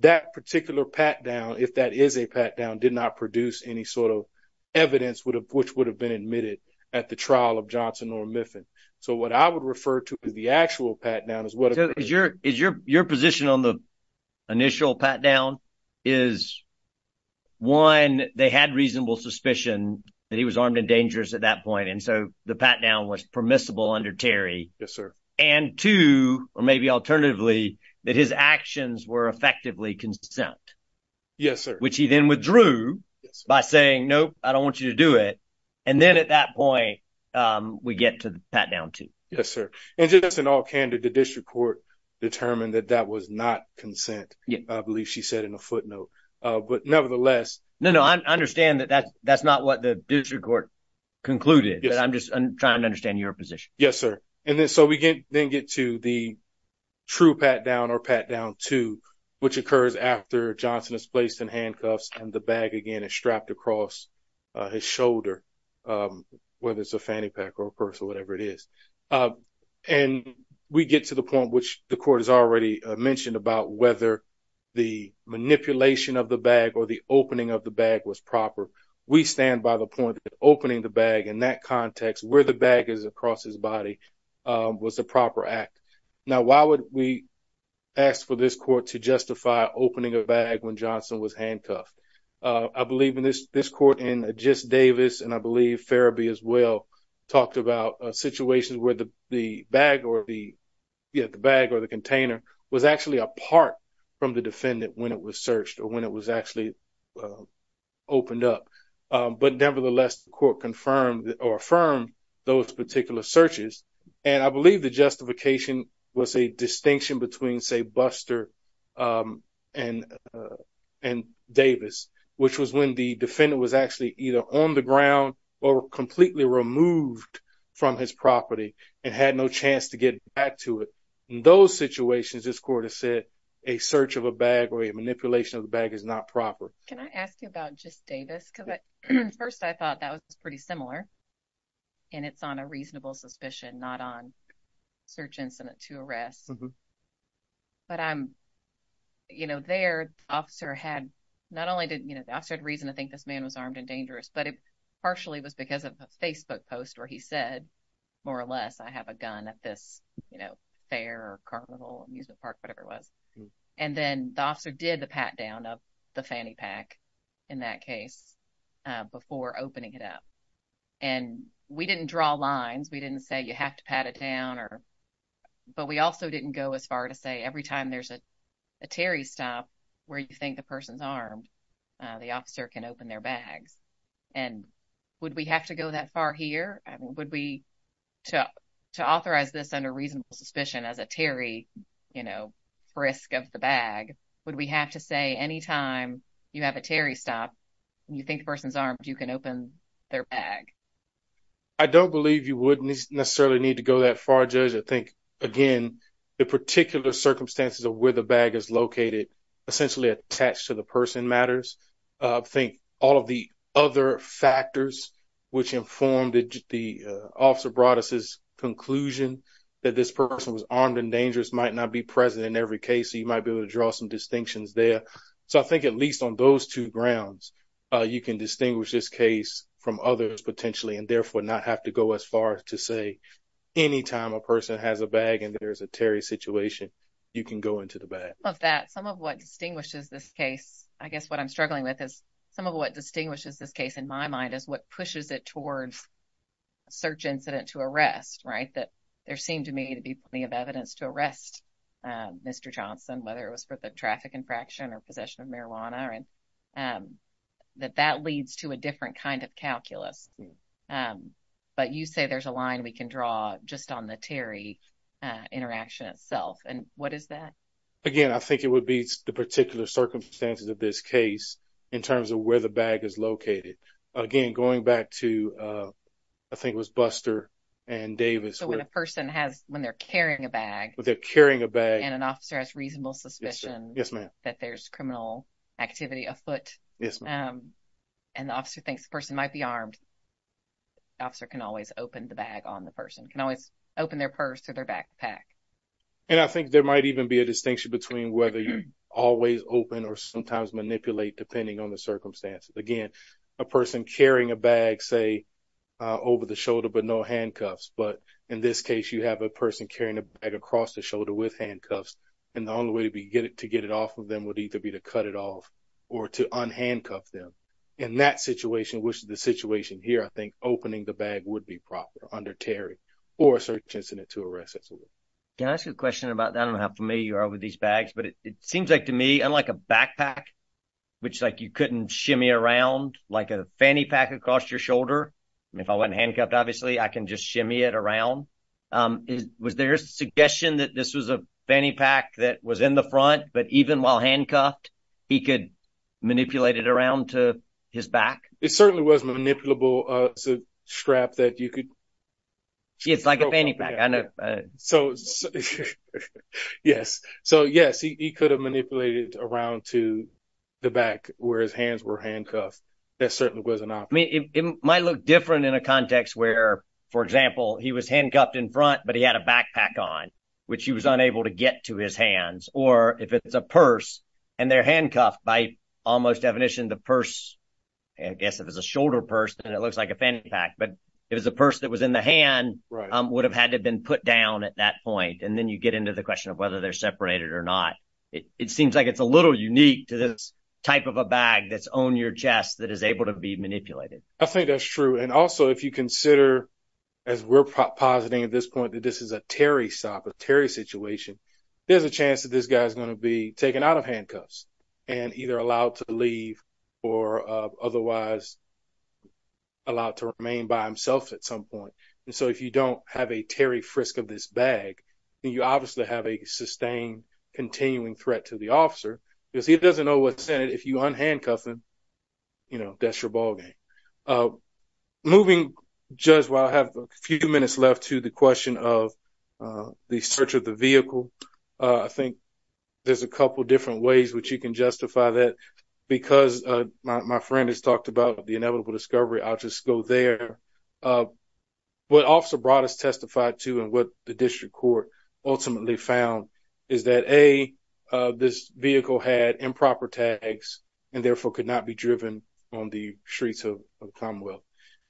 That particular pat down, if that is a pat down, did not produce any sort of evidence which would have been admitted at the trial of Johnson or Miffin. So what I would refer to as the actual pat down is what- So is your position on the initial pat down is one, they had reasonable suspicion that he was armed and dangerous at that point. And so the pat down was permissible under Terry. Yes, sir. And two, or maybe alternatively, that his actions were effectively consent. Yes, sir. Which he then withdrew by saying, nope, I don't want you to do it. And then at that point, we get to the pat down two. Yes, sir. And just in all candor, the district court determined that that was not consent. I believe she said in a footnote, but nevertheless- No, no, I understand that that's not what the district court concluded, but I'm just trying to understand your position. Yes, sir. And then so we then get to the true pat down or pat down two, which occurs after Johnson is placed in handcuffs and the bag again is strapped across his shoulder, whether it's a fanny pack or a purse or whatever it is. And we get to the point which the court has already mentioned about whether the manipulation of the bag or the opening of the bag was proper. We stand by the point that opening the bag in that context where the bag is across his body was a proper act. Now, why would we ask for this court to justify opening a bag when Johnson was handcuffed? I believe in this court and just Davis, and I believe Ferebee as well, talked about a situation where the bag or the container was actually apart from the defendant when it was searched or when it was actually opened up. But nevertheless, the court confirmed And I believe the justification was a distinction between say Buster and Davis, which was when the defendant was actually either on the ground or completely removed from his property and had no chance to get back to it. In those situations, this court has said a search of a bag or a manipulation of the bag is not proper. Can I ask you about just Davis? Because at first I thought that was pretty similar and it's on a reasonable suspicion, not on search incident to arrest. But there, the officer had reason to think this man was armed and dangerous, but it partially was because of a Facebook post where he said, more or less, I have a gun at this fair or carnival amusement park, whatever it was. And then the officer did the pat down of the fanny pack in that case before opening it up. And we didn't draw lines. We didn't say you have to pat it down or, but we also didn't go as far to say every time there's a Terry stop where you think the person's armed, the officer can open their bags. And would we have to go that far here? Would we, to authorize this under reasonable suspicion as a Terry, you know, frisk of the bag, would we have to say, anytime you have a Terry stop and you think the person's armed, you can open their bag? I don't believe you wouldn't necessarily need to go that far, Judge. I think, again, the particular circumstances of where the bag is located, essentially attached to the person matters. I think all of the other factors which informed the officer brought us his conclusion that this person was armed and dangerous might not be present in every case. So you might be able to draw some distinctions there. So I think at least on those two grounds, you can distinguish this case from others potentially, and therefore not have to go as far to say, anytime a person has a bag and there's a Terry situation, you can go into the bag. Some of that, some of what distinguishes this case, I guess what I'm struggling with is, some of what distinguishes this case in my mind is what pushes it towards search incident to arrest, right? That there seemed to me to be plenty of evidence to arrest Mr. Johnson, whether it was for the traffic infraction or possession of marijuana, all right, that that leads to a different kind of calculus. But you say there's a line we can draw just on the Terry interaction itself. And what is that? Again, I think it would be the particular circumstances of this case in terms of where the bag is located. Again, going back to, I think it was Buster and Davis. So when a person has, when they're carrying a bag. When they're carrying a bag. And an officer has reasonable suspicion. Yes, ma'am. That there's criminal activity afoot. Yes, ma'am. And the officer thinks the person might be armed. Officer can always open the bag on the person. Can always open their purse or their backpack. And I think there might even be a distinction between whether you always open or sometimes manipulate depending on the circumstances. Again, a person carrying a bag, say over the shoulder, but no handcuffs. But in this case, you have a person carrying a bag across the shoulder with handcuffs. And the only way to get it off of them would either be to cut it off or to unhandcuff them. In that situation, which is the situation here, I think opening the bag would be proper under Terry or a search incident to arrest it. Can I ask you a question about that? I don't know how familiar you are with these bags, but it seems like to me, unlike a backpack, which like you couldn't shimmy around like a fanny pack across your shoulder. I mean, if I wasn't handcuffed, obviously I can just shimmy it around. Was there a suggestion that this was a fanny pack that was in the front, but even while handcuffed, he could manipulate it around to his back? It certainly was manipulable. It's a strap that you could- It's like a fanny pack, I know. So, yes. So yes, he could have manipulated around to the back where his hands were handcuffed. That certainly was an option. I mean, it might look different in a context where, for example, he was handcuffed in front, but he had a backpack on, which he was unable to get to his hands. Or if it's a purse and they're handcuffed, by almost definition, the purse, I guess if it's a shoulder purse, then it looks like a fanny pack. But if it was a purse that was in the hand, would have had to have been put down at that point. And then you get into the question of whether they're separated or not. It seems like it's a little unique to this type of a bag that's on your chest that is able to be manipulated. I think that's true. And also, if you consider, as we're positing at this point, that this is a Terry stop, a Terry situation, there's a chance that this guy's gonna be taken out of handcuffs and either allowed to leave or otherwise allowed to remain by himself at some point. And so, if you don't have a Terry frisk of this bag, then you obviously have a sustained, continuing threat to the officer because he doesn't know what's in it. If you unhandcuff him, that's your ball game. Moving, Judge, while I have a few minutes left to the question of the search of the vehicle, I think there's a couple of different ways which you can justify that. Because my friend has talked about the inevitable discovery, I'll just go there. What Officer Broad has testified to and what the district court ultimately found is that A, this vehicle had improper tags and therefore could not be driven on the streets of the Commonwealth.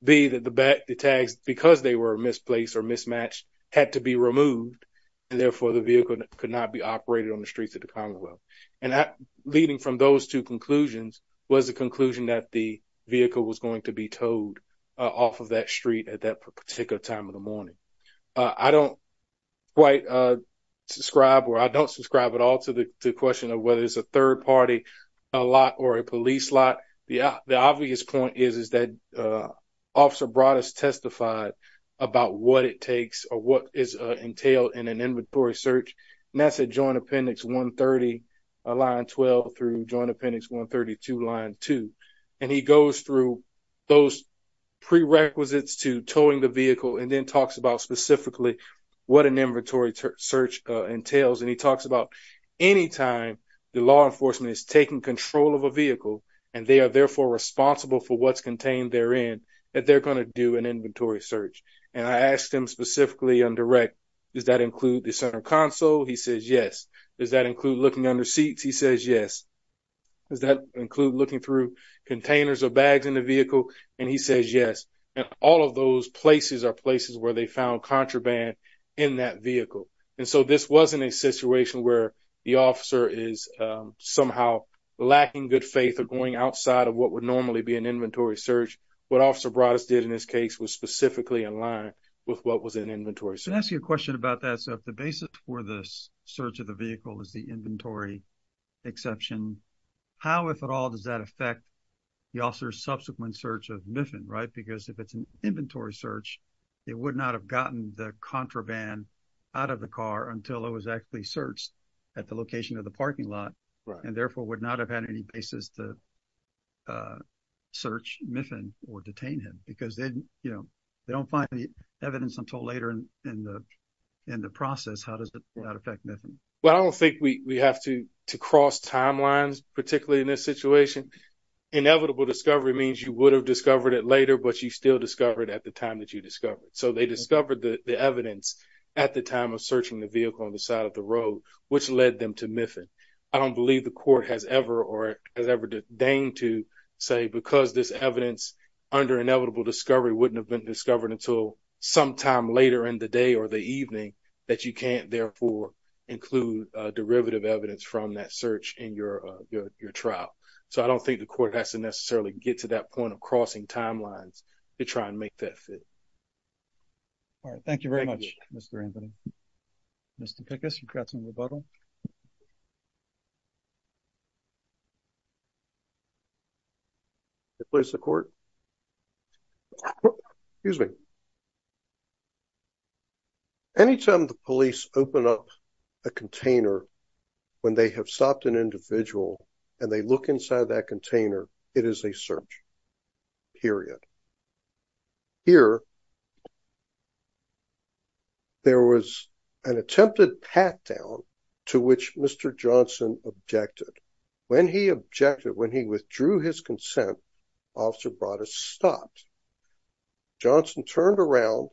B, that the tags, because they were misplaced or mismatched, had to be removed and therefore the vehicle could not be operated on the streets of the Commonwealth. And leading from those two conclusions was the conclusion that the vehicle was going to be towed off of that street at that particular time of the morning. I don't quite subscribe, or I don't subscribe at all to the question of whether it's a third party, a lot, or a police lot. The obvious point is that Officer Broad has testified about what it takes or what is entailed in an inventory search. And that's at Joint Appendix 130, line 12 through Joint Appendix 132, line two. And he goes through those prerequisites to towing the vehicle and then talks about specifically what an inventory search entails. And he talks about any time the law enforcement is taking control of a vehicle and they are therefore responsible for what's contained therein, that they're gonna do an inventory search. And I asked him specifically on direct, does that include the center console? He says, yes. Does that include looking under seats? He says, yes. Does that include looking through containers or bags in the vehicle? And he says, yes. And all of those places are places where they found contraband in that vehicle. And so this wasn't a situation where the officer is somehow lacking good faith or going outside of what would normally be an inventory search. What Officer Broaddus did in this case was specifically in line with what was an inventory search. I'm gonna ask you a question about that. So if the basis for this search of the vehicle is the inventory exception, how, if at all, does that affect the officer's subsequent search of Miffin, right? Because if it's an inventory search, it would not have gotten the contraband out of the car until it was actually searched at the location of the parking lot, and therefore would not have had any basis to search Miffin or detain him because they don't find any evidence until later in the process. How does that affect Miffin? Well, I don't think we have to cross timelines, particularly in this situation. Inevitable discovery means you would have discovered it later, but you still discovered it at the time that you discovered. So they discovered the evidence at the time of searching the vehicle on the side of the road, which led them to Miffin. I don't believe the court has ever, or has ever deigned to say, because this evidence under inevitable discovery wouldn't have been discovered until sometime later in the day or the evening, that you can't therefore include derivative evidence from that search in your trial. So I don't think the court has to necessarily get to that point of crossing timelines to try and make that fit. All right, thank you very much, Mr. Anthony. Mr. Pickus, you've got some rebuttal. Please, the court. Excuse me. Anytime the police open up a container when they have stopped an individual and they look inside that container, it is a search, period. Here, there was an attempted pat-down to which Mr. Johnson objected. When he objected, when he withdrew his consent, Officer Broaddus stopped. Johnson turned around,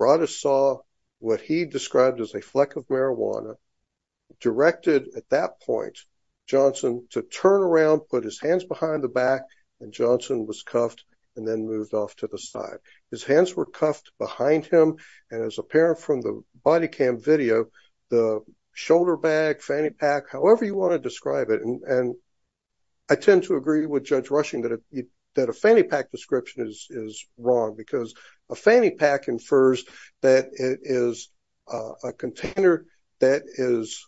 Broaddus saw what he described as a fleck of marijuana, directed at that point, Johnson to turn around, put his hands behind the back, and Johnson was cuffed and then moved off to the side. His hands were cuffed behind him, and as apparent from the body cam video, the shoulder bag, fanny pack, however you wanna describe it, and I tend to agree with Judge Rushing that a fanny pack description is wrong because a fanny pack infers that it is a container that is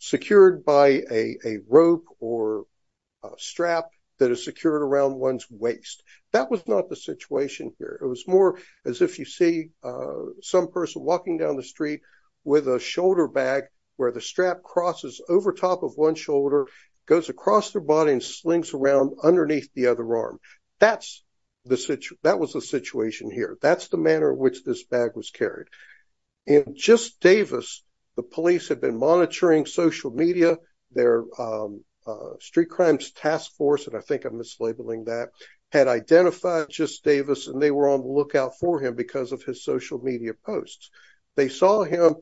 secured by a rope or a string or a strap that is secured around one's waist. That was not the situation here. It was more as if you see some person walking down the street with a shoulder bag where the strap crosses over top of one shoulder, goes across their body, and slings around underneath the other arm. That was the situation here. That's the manner in which this bag was carried. In just Davis, the police had been monitoring social media, their Street Crimes Task Force, and I think I'm mislabeling that, had identified Just Davis, and they were on the lookout for him because of his social media posts. They saw him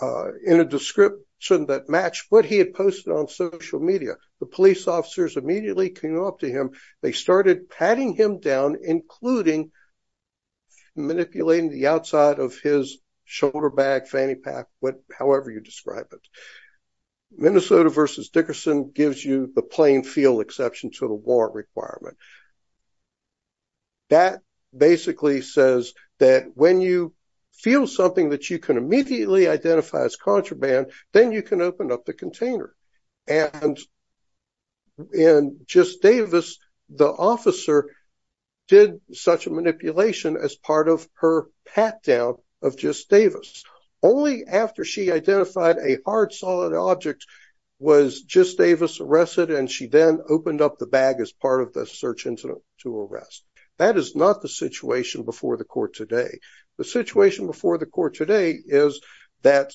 in a description that matched what he had posted on social media. The police officers immediately came up to him. They started patting him down, including manipulating the outside of his shoulder bag, fanny pack, however you describe it. Minnesota versus Dickerson gives you the plain feel exception to the warrant requirement. That basically says that when you feel something that you can immediately identify as contraband, then you can open up the container. And in Just Davis, the officer did such a manipulation as part of her pat down of Just Davis. Only after she identified a hard solid object was Just Davis arrested, and she then opened up the bag as part of the search incident to arrest. That is not the situation before the court today. The situation before the court today is that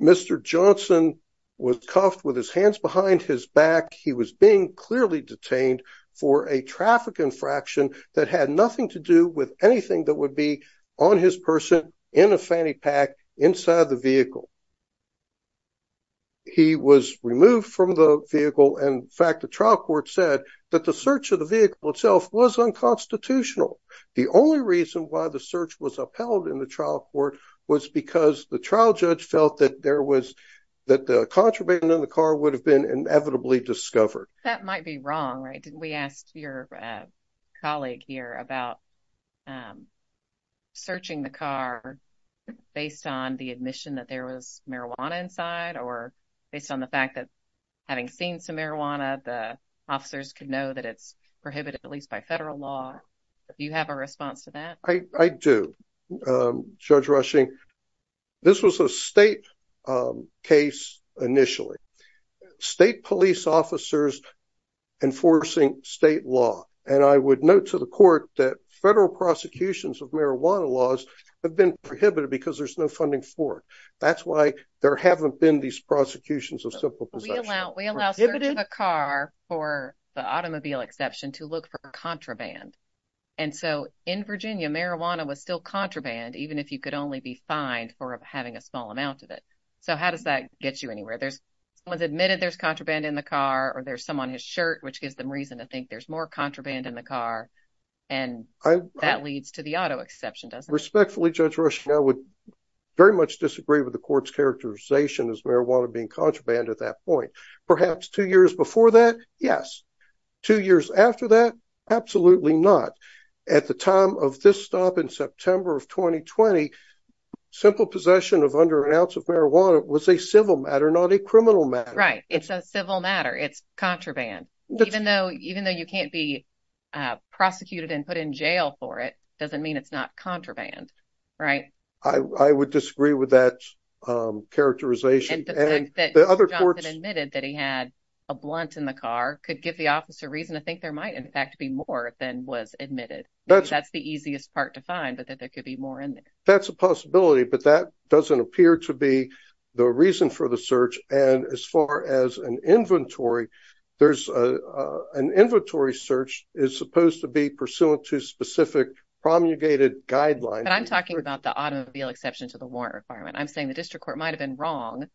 Mr. Johnson was cuffed with his hands behind his back. He was being clearly detained for a traffic infraction that had nothing to do with anything that would be on his person in a fanny pack inside the vehicle. He was removed from the vehicle. In fact, the trial court said that the search of the vehicle itself was unconstitutional. The only reason why the search was upheld in the trial court was because the trial judge felt that the contraband in the car would have been inevitably discovered. That might be wrong, right? We asked your colleague here about searching the car based on the admission that there was marijuana inside or based on the fact that having seen some marijuana, the officers could know that it's prohibited, at least by federal law. Do you have a response to that? I do, Judge Rushing. This was a state case initially. State police officers enforcing state law. And I would note to the court that federal prosecutions of marijuana laws have been prohibited because there's no funding for it. That's why there haven't been these prosecutions of simple possession. We allow search of a car, for the automobile exception, to look for contraband. And so in Virginia, marijuana was still contraband, even if you could only be fined for having a small amount of it. So how does that get you anywhere? Someone's admitted there's contraband in the car or there's some on his shirt, which gives them reason to think there's more contraband in the car. And that leads to the auto exception, doesn't it? Respectfully, Judge Rushing, I would very much disagree with the court's characterization as marijuana being contraband at that point. Perhaps two years before that, yes. Two years after that, absolutely not. At the time of this stop in September of 2020, simple possession of under an ounce of marijuana was a civil matter, not a criminal matter. Right, it's a civil matter. It's contraband, even though you can't be prosecuted and put in jail for it, doesn't mean it's not contraband, right? I would disagree with that characterization. And the fact that John had admitted that he had a blunt in the car could give the officer reason to think there might, in fact, be more than was admitted. but that there could be more in there. That's a possibility, but that doesn't appear to be the reason for the search. And as far as an inventory, there's an inventory search is supposed to be pursuant to specific promulgated guidelines. But I'm talking about the automobile exception to the warrant requirement. I'm saying the district court might've been wrong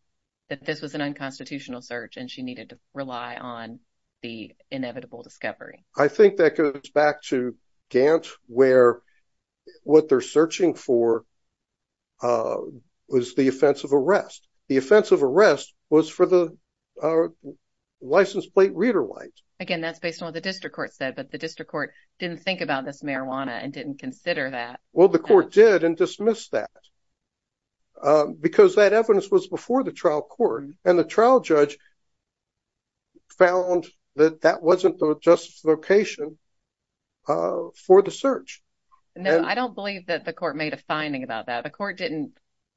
that this was an unconstitutional search and she needed to rely on the inevitable discovery. I think that goes back to Gantt where what they're searching for was the offense of arrest. The offense of arrest was for the license plate reader light. Again, that's based on what the district court said, but the district court didn't think about this marijuana and didn't consider that. Well, the court did and dismissed that because that evidence was before the trial court and the trial judge found that that wasn't the justice location for the search. No, I don't believe that the court made a finding about that. The court didn't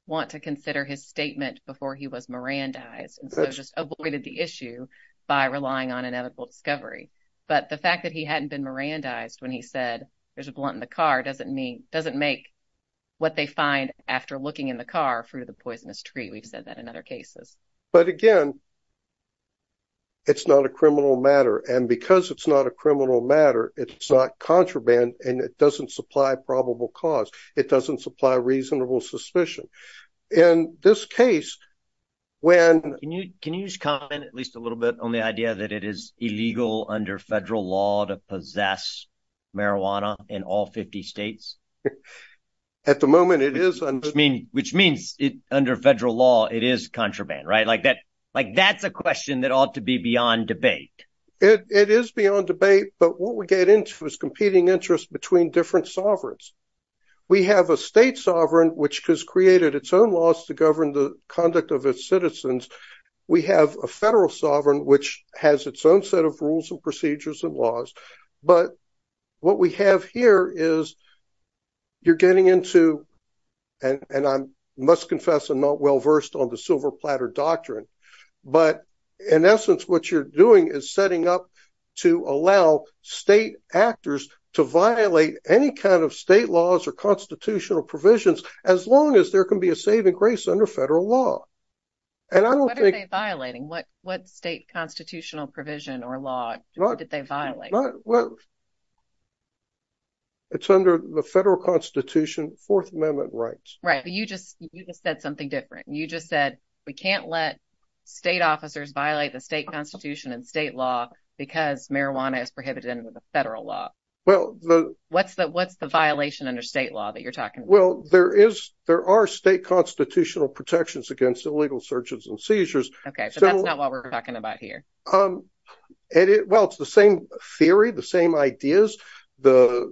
want to consider his statement before he was Mirandized. And so just avoided the issue by relying on inevitable discovery. But the fact that he hadn't been Mirandized when he said there's a blunt in the car doesn't make what they find after looking in the car through the poisonous tree. We've said that in other cases. But again, it's not a criminal matter. And because it's not a criminal matter, it's not contraband and it doesn't supply probable cause. It doesn't supply reasonable suspicion. In this case, when- Can you just comment at least a little bit on the idea that it is illegal under federal law to possess marijuana in all 50 states? At the moment it is- Which means under federal law, it is contraband, right? Like that's a question that ought to be beyond debate. It is beyond debate. But what we get into is competing interests between different sovereigns. We have a state sovereign, which has created its own laws to govern the conduct of its citizens. We have a federal sovereign, which has its own set of rules and procedures and laws. But what we have here is you're getting into, and I must confess I'm not well-versed on the silver platter doctrine, but in essence, what you're doing is setting up to allow state actors to violate any kind of state laws or constitutional provisions, as long as there can be a saving grace under federal law. And I don't think- What are they violating? What state constitutional provision or law did they violate? Well, it's under the federal constitution, fourth amendment rights. Right, but you just said something different. You just said, we can't let state officers violate the state constitution and state law because marijuana is prohibited under the federal law. Well, the- What's the violation under state law that you're talking about? Well, there are state constitutional protections against illegal searches and seizures. Okay, so that's not what we're talking about here. And it, well, it's the same theory, the same ideas. The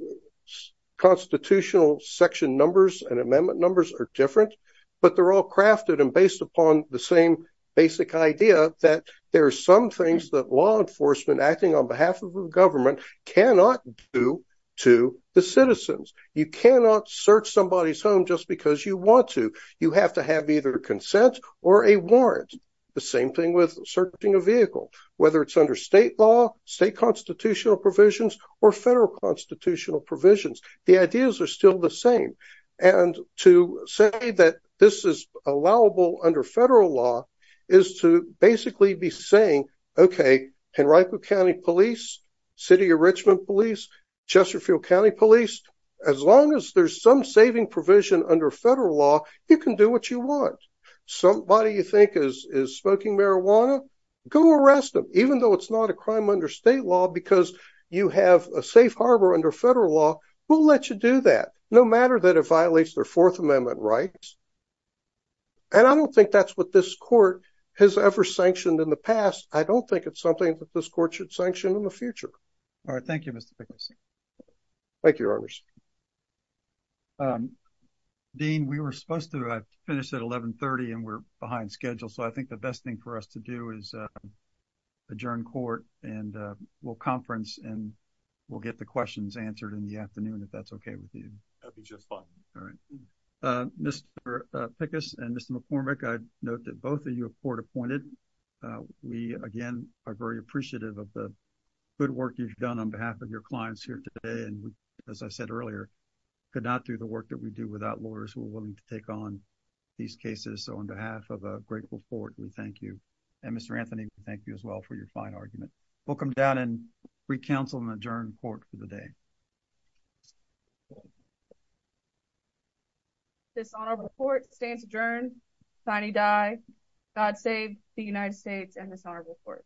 constitutional section numbers and amendment numbers are different, but they're all crafted and based upon the same basic idea that there are some things that law enforcement acting on behalf of the government cannot do to the citizens. You cannot search somebody's home just because you want to. You have to have either consent or a warrant. The same thing with searching a vehicle, whether it's under state law, state constitutional provisions or federal constitutional provisions, the ideas are still the same. And to say that this is allowable under federal law is to basically be saying, okay, Henrico County Police, City of Richmond Police, Chesterfield County Police, as long as there's some saving provision under federal law, you can do what you want. Somebody you think is smoking marijuana, go arrest them. Even though it's not a crime under state law because you have a safe harbor under federal law, we'll let you do that, no matter that it violates their Fourth Amendment rights. And I don't think that's what this court has ever sanctioned in the past. I don't think it's something that this court should sanction in the future. All right, thank you, Mr. Pickles. Thank you, Your Honors. Dean, we were supposed to finish at 1130 and we're behind schedule. So I think the best thing for us to do is adjourn court and we'll conference and we'll get the questions answered in the afternoon if that's okay with you. That'd be just fine. All right, Mr. Pickles and Mr. McCormick, I'd note that both of you are court appointed. We, again, are very appreciative of the good work you've done on behalf of your clients here today. And as I said earlier, could not do the work that we do without lawyers who are willing to take on these cases. So on behalf of a grateful court, we thank you. And Mr. Anthony, we thank you as well for your fine argument. We'll come down and re-counsel and adjourn court for the day. Dishonorable court stands adjourned. Tiny die, God save the United States and dishonorable court. Thank you. Thank you.